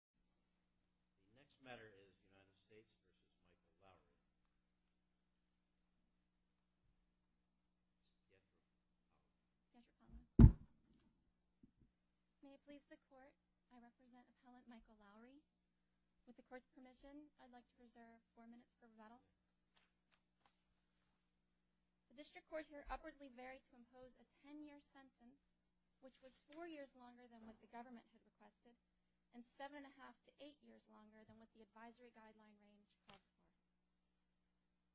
The next matter is the United States v. Michael Lowery May it please the Court, I represent Appellant Michael Lowery With the Court's permission, I'd like to reserve four minutes for rebuttal The District Court here upwardly varied to impose a ten-year sentence which was four years longer than what the government had requested and seven-and-a-half to eight years longer than what the advisory guideline range had requested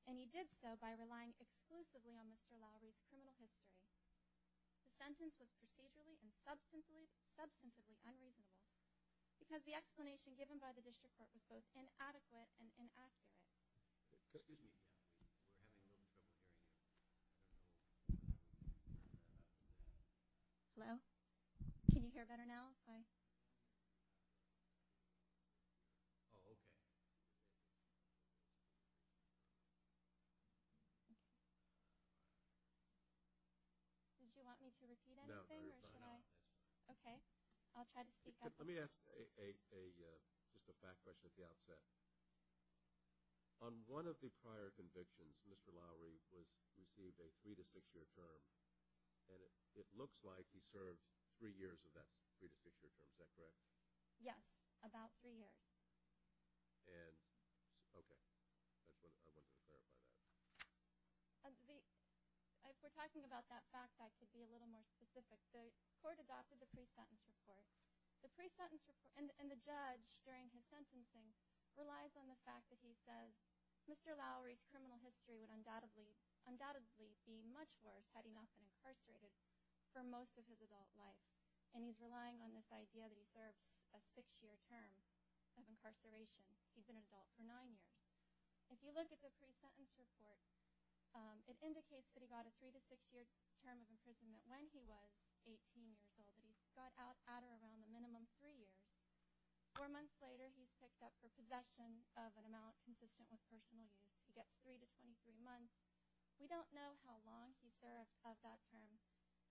And he did so by relying exclusively on Mr. Lowery's criminal history The sentence was procedurally and substantively unreasonable because the explanation given by the District Court was both inadequate and inaccurate Excuse me, we're having a little trouble hearing you Hello? Can you hear better now? Oh, okay Did you want me to repeat anything or should I? No, you're fine now Okay, I'll try to speak up Let me ask just a back question at the outset On one of the prior convictions, Mr. Lowery received a three-to-six-year term and it looks like he served three years of that three-to-six-year term, is that correct? Yes, about three years And, okay, I wanted to clarify that If we're talking about that fact, I could be a little more specific The Court adopted the pre-sentence report and relies on the fact that he says Mr. Lowery's criminal history would undoubtedly be much worse had he not been incarcerated for most of his adult life And he's relying on this idea that he serves a six-year term of incarceration He'd been an adult for nine years If you look at the pre-sentence report, it indicates that he got a three-to-six-year term of imprisonment when he was 18 years old, but he's got out at or around the minimum three years Four months later, he's picked up for possession of an amount consistent with personal use He gets three to 23 months We don't know how long he served of that term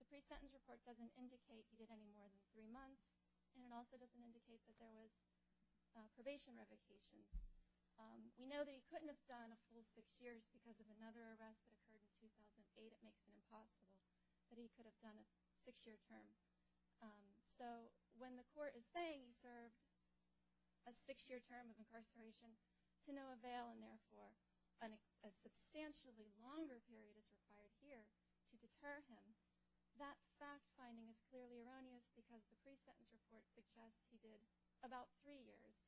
The pre-sentence report doesn't indicate he did any more than three months And it also doesn't indicate that there was probation revocations We know that he couldn't have done a full six years because of another arrest that occurred in 2008 It makes it impossible that he could have done a six-year term So when the court is saying he served a six-year term of incarceration to no avail and therefore a substantially longer period is required here to deter him that fact-finding is clearly erroneous because the pre-sentence report suggests he did about three years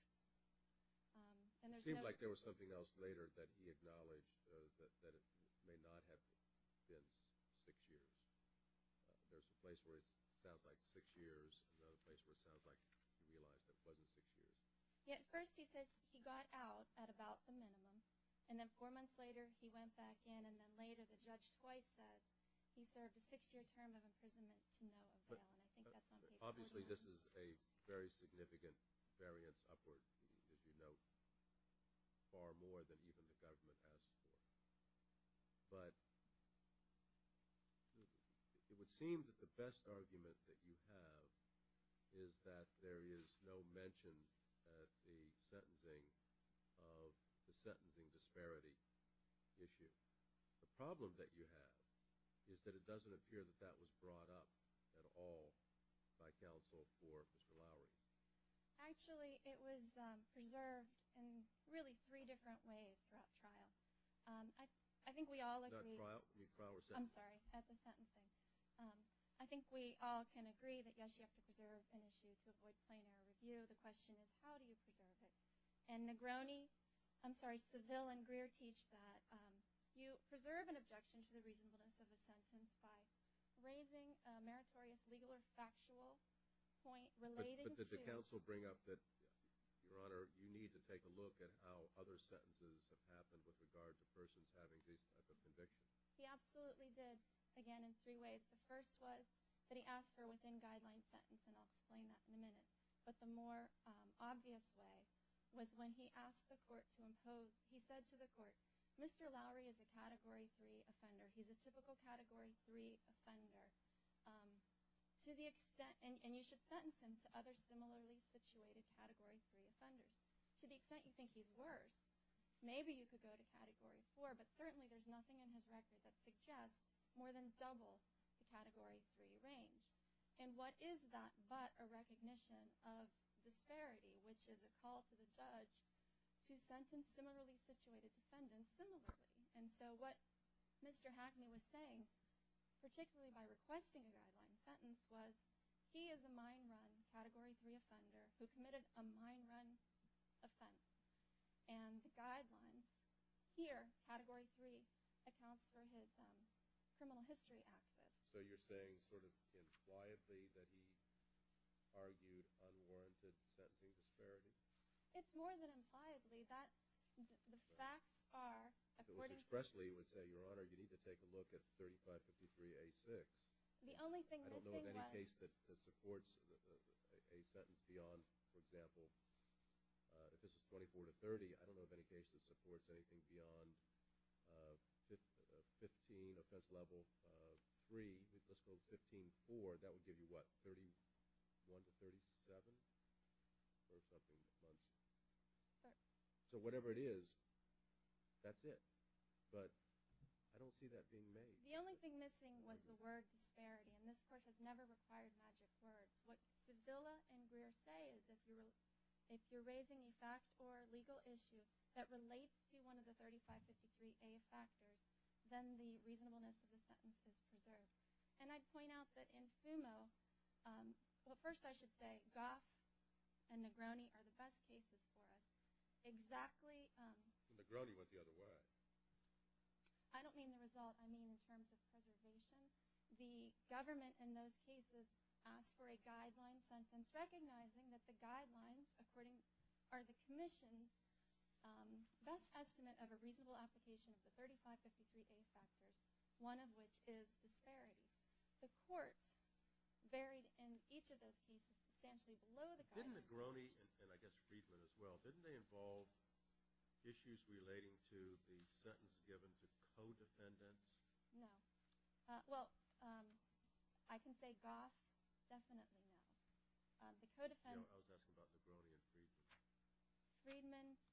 It seemed like there was something else later that he acknowledged that it may not have been six years There's a place where it sounds like six years and another place where it sounds like he realized it wasn't six years At first, he says he got out at about the minimum And then four months later, he went back in And then later, the judge twice said he served a six-year term of imprisonment to no avail And I think that's on paper Obviously, this is a very significant variance upwards as you note, far more than even the government has for it But it would seem that the best argument that you have is that there is no mention of the sentencing disparity issue The problem that you have is that it doesn't appear that that was brought up at all by counsel for Mr. Lowry Actually, it was preserved in really three different ways throughout trial I think we all agree I'm sorry, at the sentencing I think we all can agree that, yes, you have to preserve an issue to avoid plain-air review The question is, how do you preserve it? And Negroni – I'm sorry, Seville and Greer teach that you preserve an objection to the reasonableness of a sentence by raising a meritorious legal or factual point related to Did counsel bring up that, Your Honor, you need to take a look at how other sentences have happened with regard to persons having these types of convictions? He absolutely did, again, in three ways The first was that he asked for a within-guidelines sentence, and I'll explain that in a minute But the more obvious way was when he asked the court to impose – he said to the court, Mr. Lowry is a Category 3 offender He's a typical Category 3 offender And you should sentence him to other similarly-situated Category 3 offenders To the extent you think he's worse, maybe you could go to Category 4 But certainly there's nothing in his record that suggests more than double the Category 3 range And what is that but a recognition of disparity, which is a call to the judge to sentence similarly-situated defendants similarly And so what Mr. Hackney was saying, particularly by requesting a guideline sentence, was he is a mine-run Category 3 offender who committed a mine-run offense And the guidelines here, Category 3, accounts for his criminal history access So you're saying sort of impliably that he argued unwarranted sentencing disparity? It's more than impliably. The facts are, according to – Ms. Presley would say, Your Honor, you need to take a look at 3553A6 The only thing missing was – I don't know of any case that supports a sentence beyond, for example, if this is 24 to 30, I don't know of any case that supports anything beyond 15, offense level 3, let's go to 15.4 And that would give you, what, 31 to 37? So whatever it is, that's it. But I don't see that being made. The only thing missing was the word disparity, and this Court has never required magic words. What Sevilla and Greer say is if you're raising a fact or a legal issue that relates to one of the 3553A factors, then the reasonableness of the sentence is preserved. And I'd point out that in FUMO – well, first I should say Goff and Negroni are the best cases for us. Exactly – Negroni went the other way. I don't mean the result. I mean in terms of preservation. The government in those cases asked for a guideline sentence recognizing that the guidelines, according – are the commission's best estimate of a reasonable application of the 3553A factors, one of which is disparity. The Court buried in each of those cases substantially below the guidelines. Didn't Negroni and I guess Friedman as well, didn't they involve issues relating to the sentence given to co-defendants? No. Well, I can say Goff, definitely no. The co-defendants – No, I was asking about Negroni and Friedman. Friedman –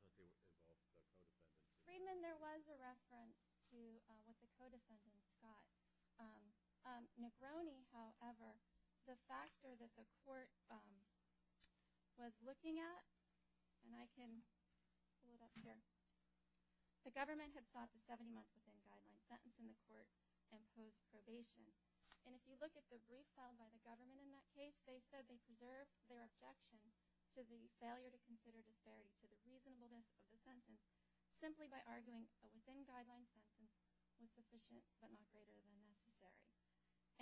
I thought they were involved with the co-defendants. Friedman, there was a reference to what the co-defendants thought. Negroni, however, the factor that the Court was looking at – and I can pull it up here. The government had sought the 70-month-within guideline sentence in the Court and posed probation. And if you look at the brief filed by the government in that case, they said they preserved their objection to the failure to consider disparity to the reasonableness of the sentence simply by arguing a within-guideline sentence was sufficient but not greater than necessary.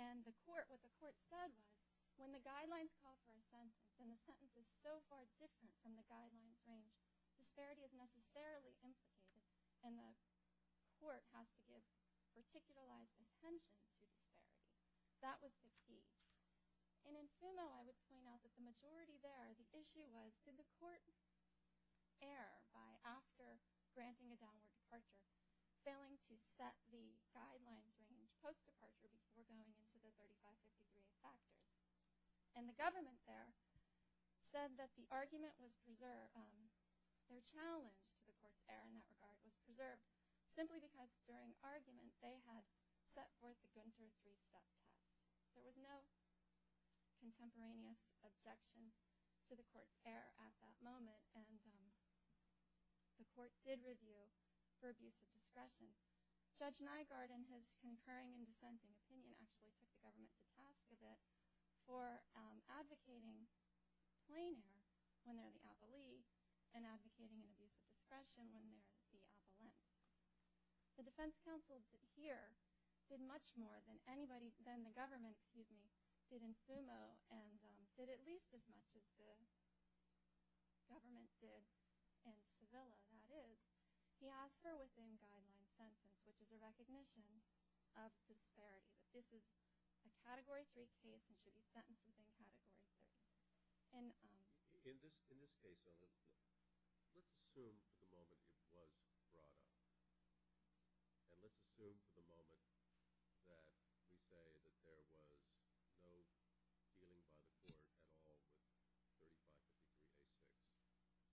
And what the Court said was when the guidelines call for a sentence and the sentence is so far different from the guidelines range, disparity is necessarily implicated and the Court has to give particularized attention to disparity. That was the key. And in Fumo, I would point out that the majority there, the issue was did the Court err by after granting a downward departure failing to set the guidelines range post-departure before going into the 35-50-day practice. And the government there said that the argument was preserved – their challenge to the Court's error in that regard was preserved simply because during argument they had set forth the Gunter three-step time. There was no contemporaneous objection to the Court's error at that moment. And the Court did review for abuse of discretion. Judge Nygaard in his concurring and dissenting opinion actually put the government to task a bit for advocating plain error when they're the avalee and advocating an abuse of discretion when they're the avalente. The defense counsel here did much more than the government did in Fumo and did at least as much as the government did in Sevilla, that is. He asked for a within-guideline sentence, which is a recognition of disparity. This is a Category 3 case and should be sentenced within Category 3. In this case, let's assume for the moment it was brought up. And let's assume for the moment that we say that there was no dealing by the Court at all with 35-50-day practice.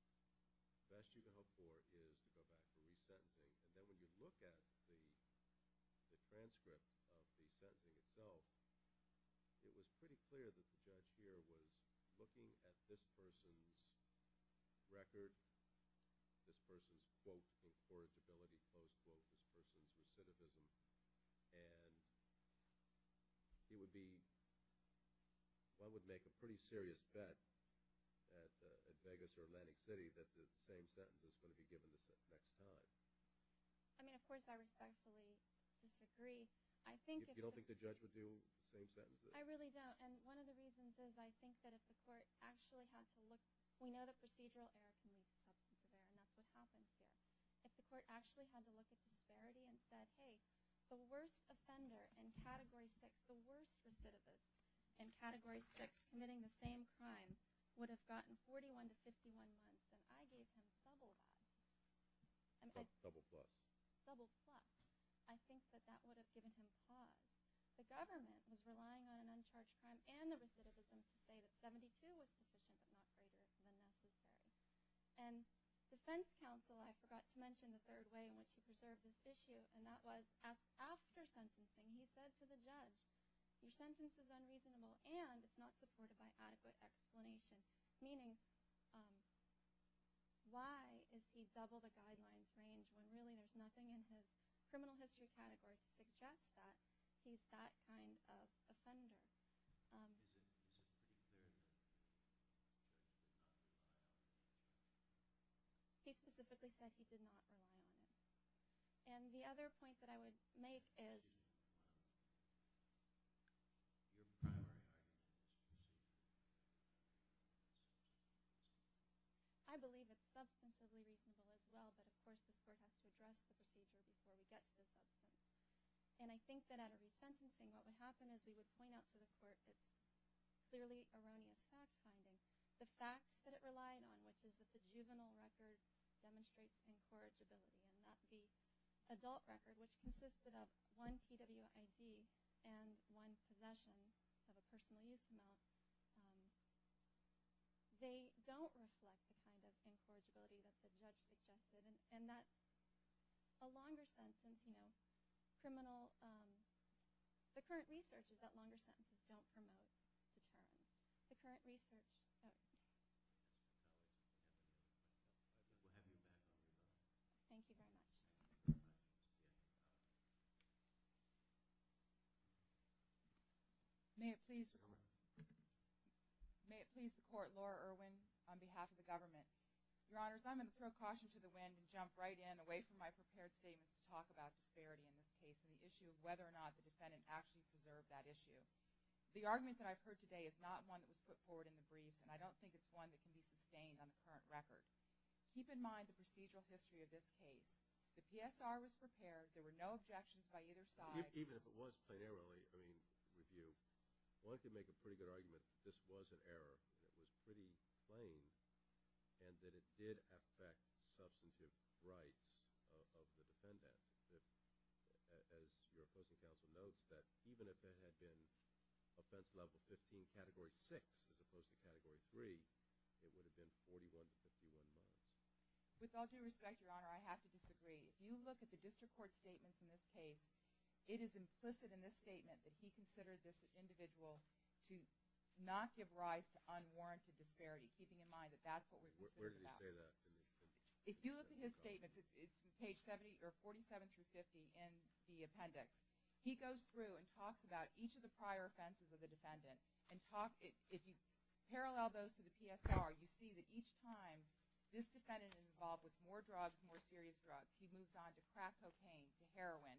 The best you can hope for is to go back to resentencing. And then when you look at the transcript of the sentencing itself, it was pretty clear that the judge here was looking at this person's record, this person's, quote, affordability, close quote, this person's recidivism, and he would be – one would make a pretty serious bet at Vegas or Atlantic City that the same sentence was going to be given the next time. I mean, of course, I respectfully disagree. If you don't think the judge would do the same sentences. I really don't. And one of the reasons is I think that if the Court actually had to look – we know that procedural error can lead to substantive error, and that's what happens here. If the Court actually had to look at disparity and said, hey, the worst offender in Category 6, the worst recidivist in Category 6 committing the same crime would have gotten 41 to 51 months, and I gave him double that. Double plus. I think that that would have given him pause. The government was relying on an uncharged crime and the recidivism to say that 72 was sufficient, but not greater than that he said. And defense counsel, I forgot to mention the third way in which he preserved this issue, and that was after sentencing he said to the judge, your sentence is unreasonable and it's not supported by adequate explanation, meaning why is he double the guidelines range when really there's nothing in his criminal history category to suggest that he's that kind of offender? He specifically said he did not rely on it. And the other point that I would make is I believe it's substantially reasonable as well, but of course this Court has to address the procedure before we get to this other point. And I think that at a resentencing what would happen is we would point out to the Court it's clearly erroneous fact finding. The facts that it relied on, which is that the juvenile record demonstrates incorrigibility and not the adult record, which consisted of one PWID and one possession of a personal use amount, they don't reflect the kind of incorrigibility that the judge suggested. And that's a longer sentence. Criminal, the current research is that longer sentences don't promote the term. The current research. Thank you very much. May it please the Court, Laura Irwin on behalf of the government. Your Honors, I'm going to throw caution to the wind and jump right in, away from my prepared statements to talk about disparity in this case and the issue of whether or not the defendant actually preserved that issue. The argument that I've heard today is not one that was put forward in the briefs, and I don't think it's one that can be sustained on the current record. Keep in mind the procedural history of this case. The PSR was prepared. There were no objections by either side. Even if it was plain error, I mean, review, one could make a pretty good argument that this was an error, that it was pretty plain, and that it did affect substantive rights of the defendant. As your opposing counsel notes, that even if there had been offense level 15, category 6, as opposed to category 3, it would have been 41-51-9. With all due respect, Your Honor, I have to disagree. If you look at the district court statements in this case, it is implicit in this statement that he considered this individual to not give rise to unwarranted disparity, keeping in mind that that's what we're considering. Where did he say that? If you look at his statements, it's page 47-50 in the appendix. He goes through and talks about each of the prior offenses of the defendant. If you parallel those to the PSR, you see that each time this defendant is involved with more drugs, more serious drugs, he moves on to crack cocaine, to heroin,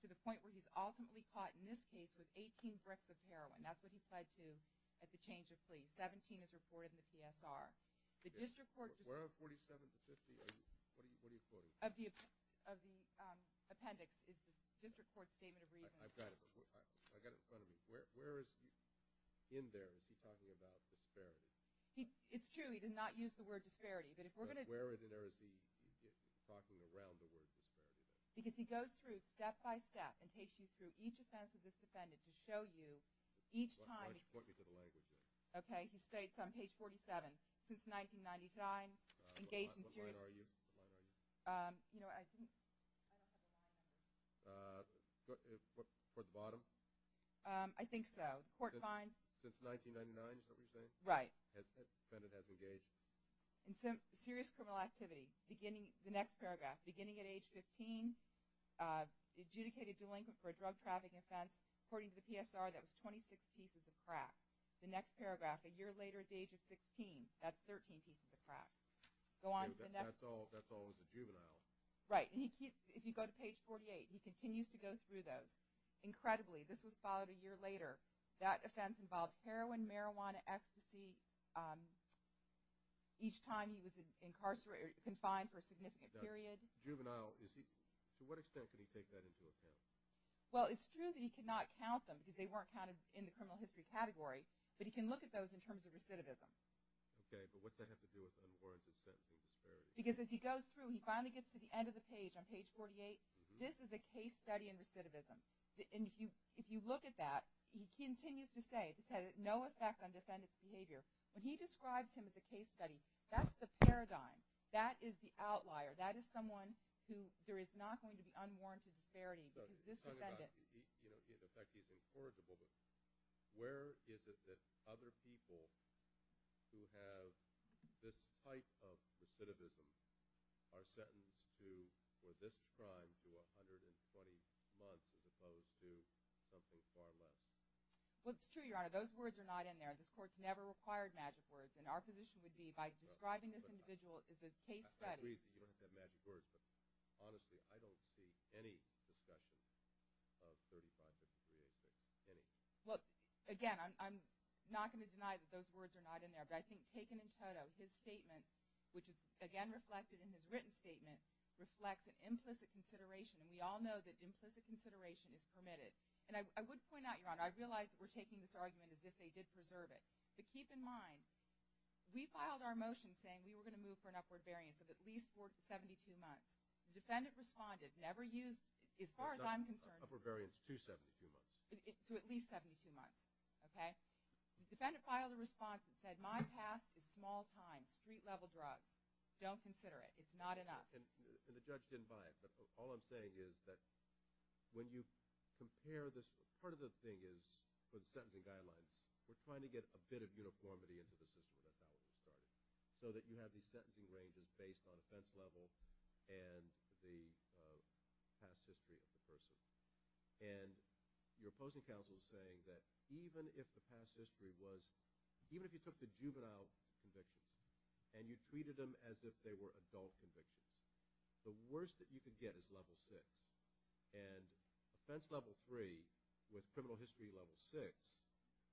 to the point where he's ultimately caught in this case with 18 bricks of heroin. That's what he pled to at the change of plea. 17 is reported in the PSR. Where are 47-50? What are you quoting? Of the appendix is the district court statement of reasons. I've got it. I've got it in front of me. Where is he in there? Is he talking about disparity? It's true. He did not use the word disparity. Where in there is he talking around the word disparity? Because he goes through step-by-step and takes you through each offense of this defendant to show you each time. Why don't you point me to the language there? Okay. He states on page 47, since 1999, engaged in serious... What line are you? You know, I think... I don't have the line. Toward the bottom? I think so. The court finds... Since 1999 is what you're saying? Right. The defendant has engaged. In serious criminal activity. Beginning... The next paragraph. Beginning at age 15, adjudicated delinquent for a drug trafficking offense. According to the PSR, that was 26 pieces of crack. The next paragraph, a year later at the age of 16. That's 13 pieces of crack. Go on to the next... That's all... That's all as a juvenile. Right. And he keeps... If you go to page 48, he continues to go through those. Incredibly, this was followed a year later. That offense involved heroin, marijuana, ecstasy... Each time he was incarcerated or confined for a significant period. Now, juvenile... To what extent could he take that into account? Well, it's true that he could not count them because they weren't counted in the criminal history category. But he can look at those in terms of recidivism. Okay. But what does that have to do with unwarranted sentencing? Because as he goes through, he finally gets to the end of the page on page 48. This is a case study in recidivism. And if you look at that, he continues to say, this had no effect on defendant's behavior. When he describes him as a case study, that's the paradigm. That is the outlier. That is someone who there is not going to be unwarranted disparity because this defendant... You know, in effect, he's incorrigible. But where is it that other people who have this type of recidivism are sentenced to, for this crime, to 120 months as opposed to something far less? Well, it's true, Your Honor. Those words are not in there. This Court's never required magic words. And our position would be, by describing this individual as a case study... I agree that you don't have to have magic words. But honestly, I don't see any discussion of 35 to 60 years. Any. Well, again, I'm not going to deny that those words are not in there. But I think taken in total, his statement, which is, again, reflected in his written statement, reflects an implicit consideration. And we all know that implicit consideration is permitted. And I would point out, Your Honor, I realize that we're taking this argument as if they did preserve it. But keep in mind, we filed our motion saying we were going to move for an upward variance of at least 72 months. The defendant responded, never used, as far as I'm concerned... Upward variance to 72 months. To at least 72 months. Okay? The defendant filed a response and said, my past is small time, street-level drugs. Don't consider it. It's not enough. And the judge didn't buy it. But all I'm saying is that when you compare this... Part of the thing is, for the sentencing guidelines, we're trying to get a bit of uniformity into the system of that value study. So that you have these sentencing ranges based on offense level and the past history of the person. And your opposing counsel is saying that even if the past history was... Even if you took the juvenile conviction and you treated them as if they were adult convictions, the worst that you could get is level 6. And offense level 3, with criminal history level 6,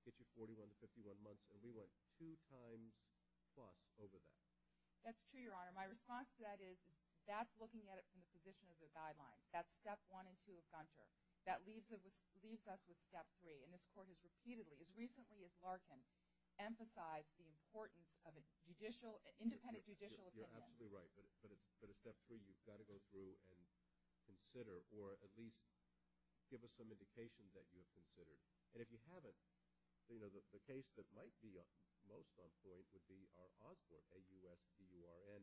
gets you 41 to 51 months. And we went two times plus over that. That's true, Your Honor. My response to that is, that's looking at it from the position of the guidelines. That's step 1 and 2 of Gunter. That leaves us with step 3. And this Court has repeatedly, as recently as Larkin, emphasized the importance of an independent judicial opinion. You're absolutely right. But at step 3, you've got to go through and consider, or at least give us some indication that you have considered. And if you haven't, the case that might be most on point would be our Osborne, A-U-S-B-U-R-N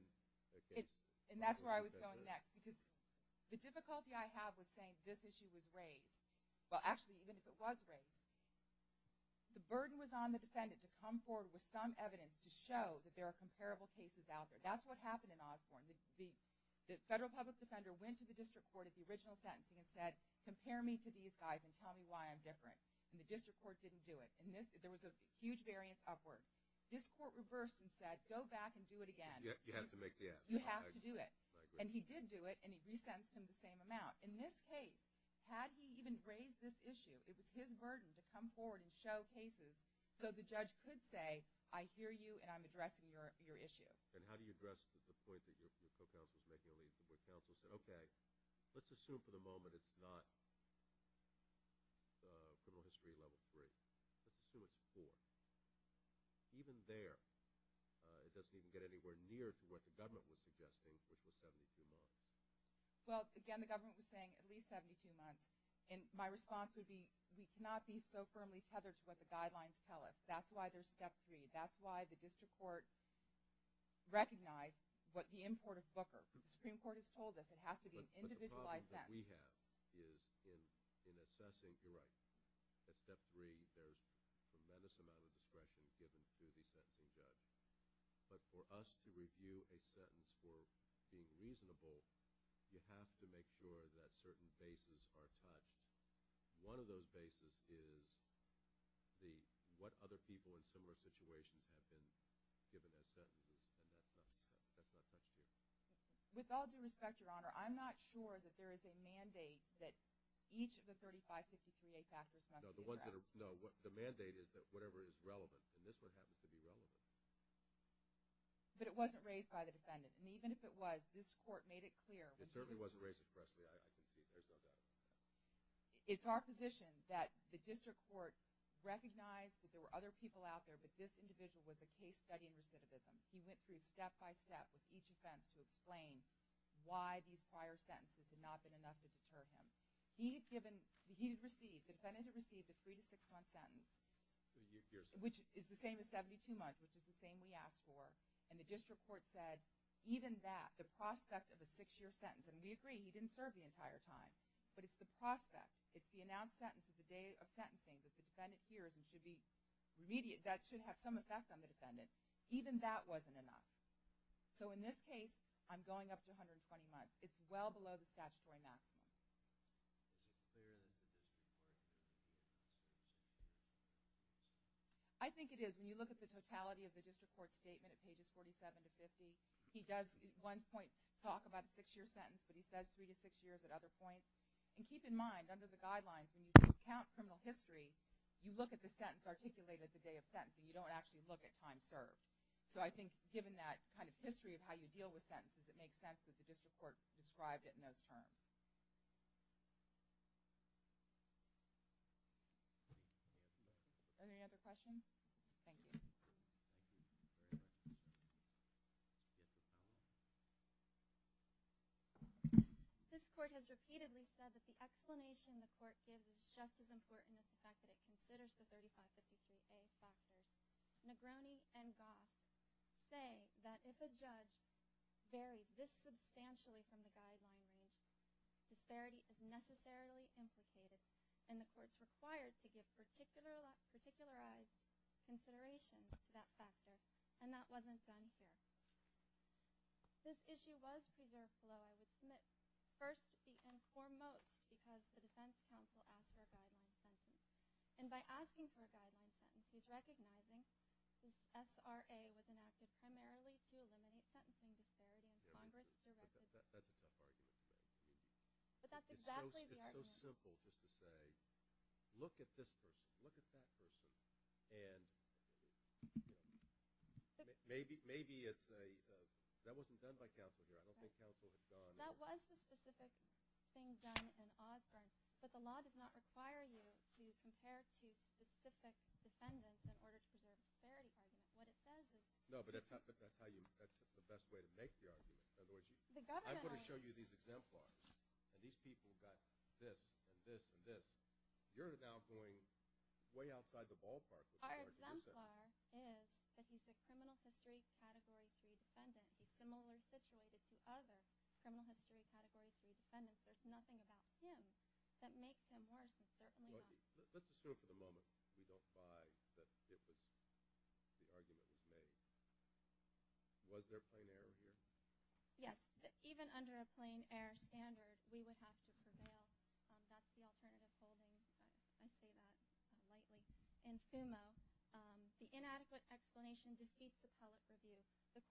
case. And that's where I was going next. Because the difficulty I have with saying this issue was raised, well, actually, even if it was raised, the burden was on the defendant to come forward with some evidence to show that there are comparable cases out there. That's what happened in Osborne. The federal public defender went to the district court at the original sentencing and said, compare me to these guys and tell me why I'm different. And the district court didn't do it. And there was a huge variance upward. This court reversed and said, go back and do it again. You have to make the effort. You have to do it. And he did do it, and he re-sentenced him the same amount. In this case, had he even raised this issue, it was his burden to come forward and show cases so the judge could say, I hear you and I'm addressing your issue. And how do you address the point that your co-counsel is making, where counsel said, okay, let's assume for the moment it's not criminal history level 3. Let's assume it's 4. Even there, it doesn't even get anywhere near to what the government was suggesting with the 72 months. Well, again, the government was saying at least 72 months. And my response would be we cannot be so firmly tethered to what the guidelines tell us. That's why there's step 3. That's why the district court recognized what the import of Booker. The Supreme Court has told us it has to be an individualized sentence. What we have is in assessing the rights, at step 3, there's a tremendous amount of discretion given to the sentencing judge. But for us to review a sentence for being reasonable, you have to make sure that certain bases are touched. One of those bases is what other people in similar situations have been given as sentences, and that's not touched here. With all due respect, Your Honor, I'm not sure that there is a mandate that each of the 3553A factors must be addressed. No, the mandate is that whatever is relevant, and this one happens to be relevant. But it wasn't raised by the defendant. And even if it was, this court made it clear. It certainly wasn't raised expressly. I can see it. There's no doubt about it. It's our position that the district court recognized that there were other people out there, but this individual was a case study in recidivism. He went through step by step with each offense to explain why these prior sentences had not been enough to deter him. He had given, he had received, the defendant had received a three- to six-month sentence, which is the same as 72 months, which is the same we asked for, and the district court said even that, the prospect of a six-year sentence, and we agree he didn't serve the entire time, but it's the prospect, it's the announced sentence of the day of sentencing that the defendant hears and should be remedied, that should have some effect on the defendant. Even that wasn't enough. So in this case, I'm going up to 120 months. It's well below the statutory maximum. I think it is. When you look at the totality of the district court's statement at pages 47 to 50, he does at one point talk about a six-year sentence, but he says three to six years at other points. And keep in mind, under the guidelines, when you count criminal history, you look at the sentence articulated the day of sentencing. You don't actually look at time served. So I think given that kind of history of how you deal with sentences, it makes sense that the district court described it in those terms. Are there any other questions? Thank you. This court has repeatedly said that the explanation the court gives is just as important as the fact that it considers the 3553A factors. Negroni and Goff say that if a judge varies this substantially from the guidelines, disparity is necessarily implicated, and the court's required to give particularized consideration to that factor, and that wasn't done here. This issue was preserved, although I would submit first and foremost because the defense counsel asked for a guideline sentence. And by asking for a guideline sentence, he's recognizing that SRA was enacted primarily to eliminate sentencing disparity in Congress. That's a tough argument. But that's exactly the argument. It's so simple just to say, look at this person, look at that person, and maybe it's a – that wasn't done by counsel here. I don't think counsel had done – That was the specific thing done in Osborne, but the law does not require you to compare two specific defendants in order to preserve disparity. No, but that's how you – that's the best way to make the argument. In other words, I'm going to show you these exemplars, and these people have got this and this and this. You're now going way outside the ballpark. Our exemplar is that he's a criminal history category three defendant. He's similarly situated to other criminal history category three defendants. There's nothing about him that makes him worse. Let's assume for the moment we don't buy the argument that was made. Was there a plain error here? Yes. Even under a plain error standard, we would have to prevail. That's the alternative holding. I say that lightly. In FUMO, the inadequate explanation defeats the public review. But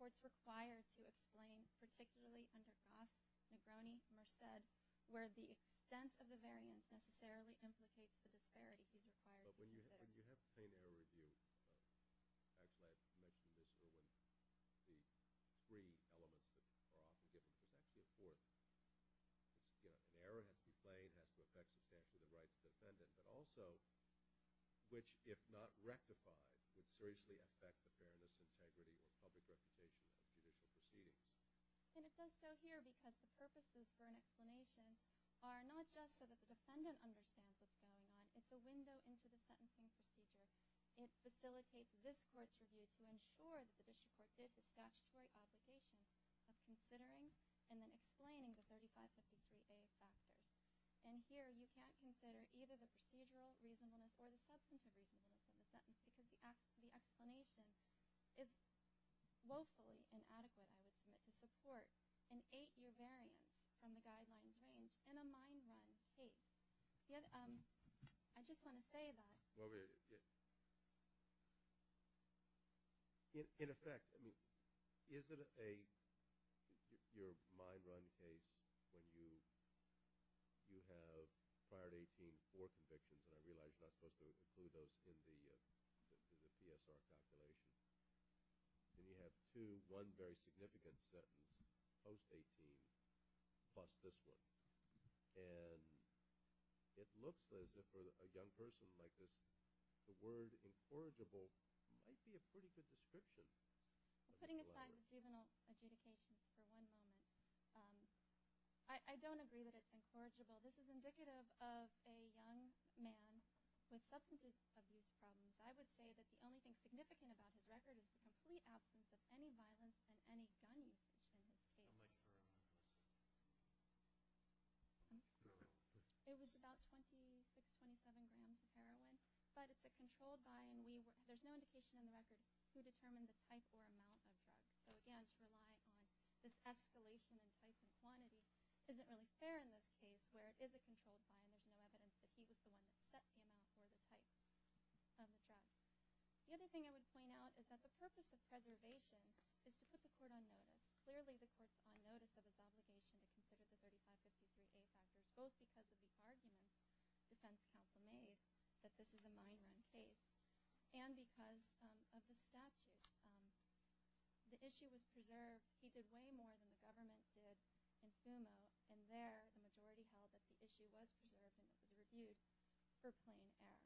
where the extent of the variance necessarily implicates the disparity, he's required to consider. But when you have a plain error review, as I mentioned this morning, the three elements that are often given to effect the report, an error has to be plain, has to affect the standard of the rights of the defendant, but also which, if not rectified, would seriously affect the fairness, integrity, or public reputation of judicial proceedings. And it does so here because the purposes for an explanation are not just so that the defendant understands what's going on. It's a window into the sentencing procedure. It facilitates this court's review to ensure that the district court did the statutory obligation of considering and then explaining the 3553A factors. And here you can't consider either the procedural reasonableness or the substantive reasonableness of the sentence because the explanation is woefully inadequate, I would submit, to support an eight-year variance from the guidelines range in a mind-run case. I just want to say that. In effect, is it a mind-run case when you have fired 18 for convictions, and I realize I'm not supposed to include those in the PSR calculation, and you have one very significant sentence, post-18, plus this one, and it looks as if for a young person like this, the word incorrigible might be a pretty good description. Putting aside the juvenile adjudication for one moment, I don't agree that it's incorrigible. This is indicative of a young man with substantive abuse problems. I would say that the only thing significant about his record is the complete absence of any violence and any gun use in this case. It was about 26, 27 grams of heroin. But it's a controlled buy, and there's no indication in the record who determined the type or amount of drugs. So again, to rely on this escalation in type and quantity isn't really fair in this case, where it is a controlled buy and there's no evidence that he was the one that set the amount or the type of drugs. The other thing I would point out is that the purpose of preservation is to put the court on notice. Clearly, the court's on notice of his obligation to consider the 3552A factors, both because of his argument, defense counsel made, that this is a mind-run case, and because of the statute. The issue was preserved. He did way more than the government did in FUMO, and there the majority held that the issue was preserved and it was reviewed for plain error. Thank you.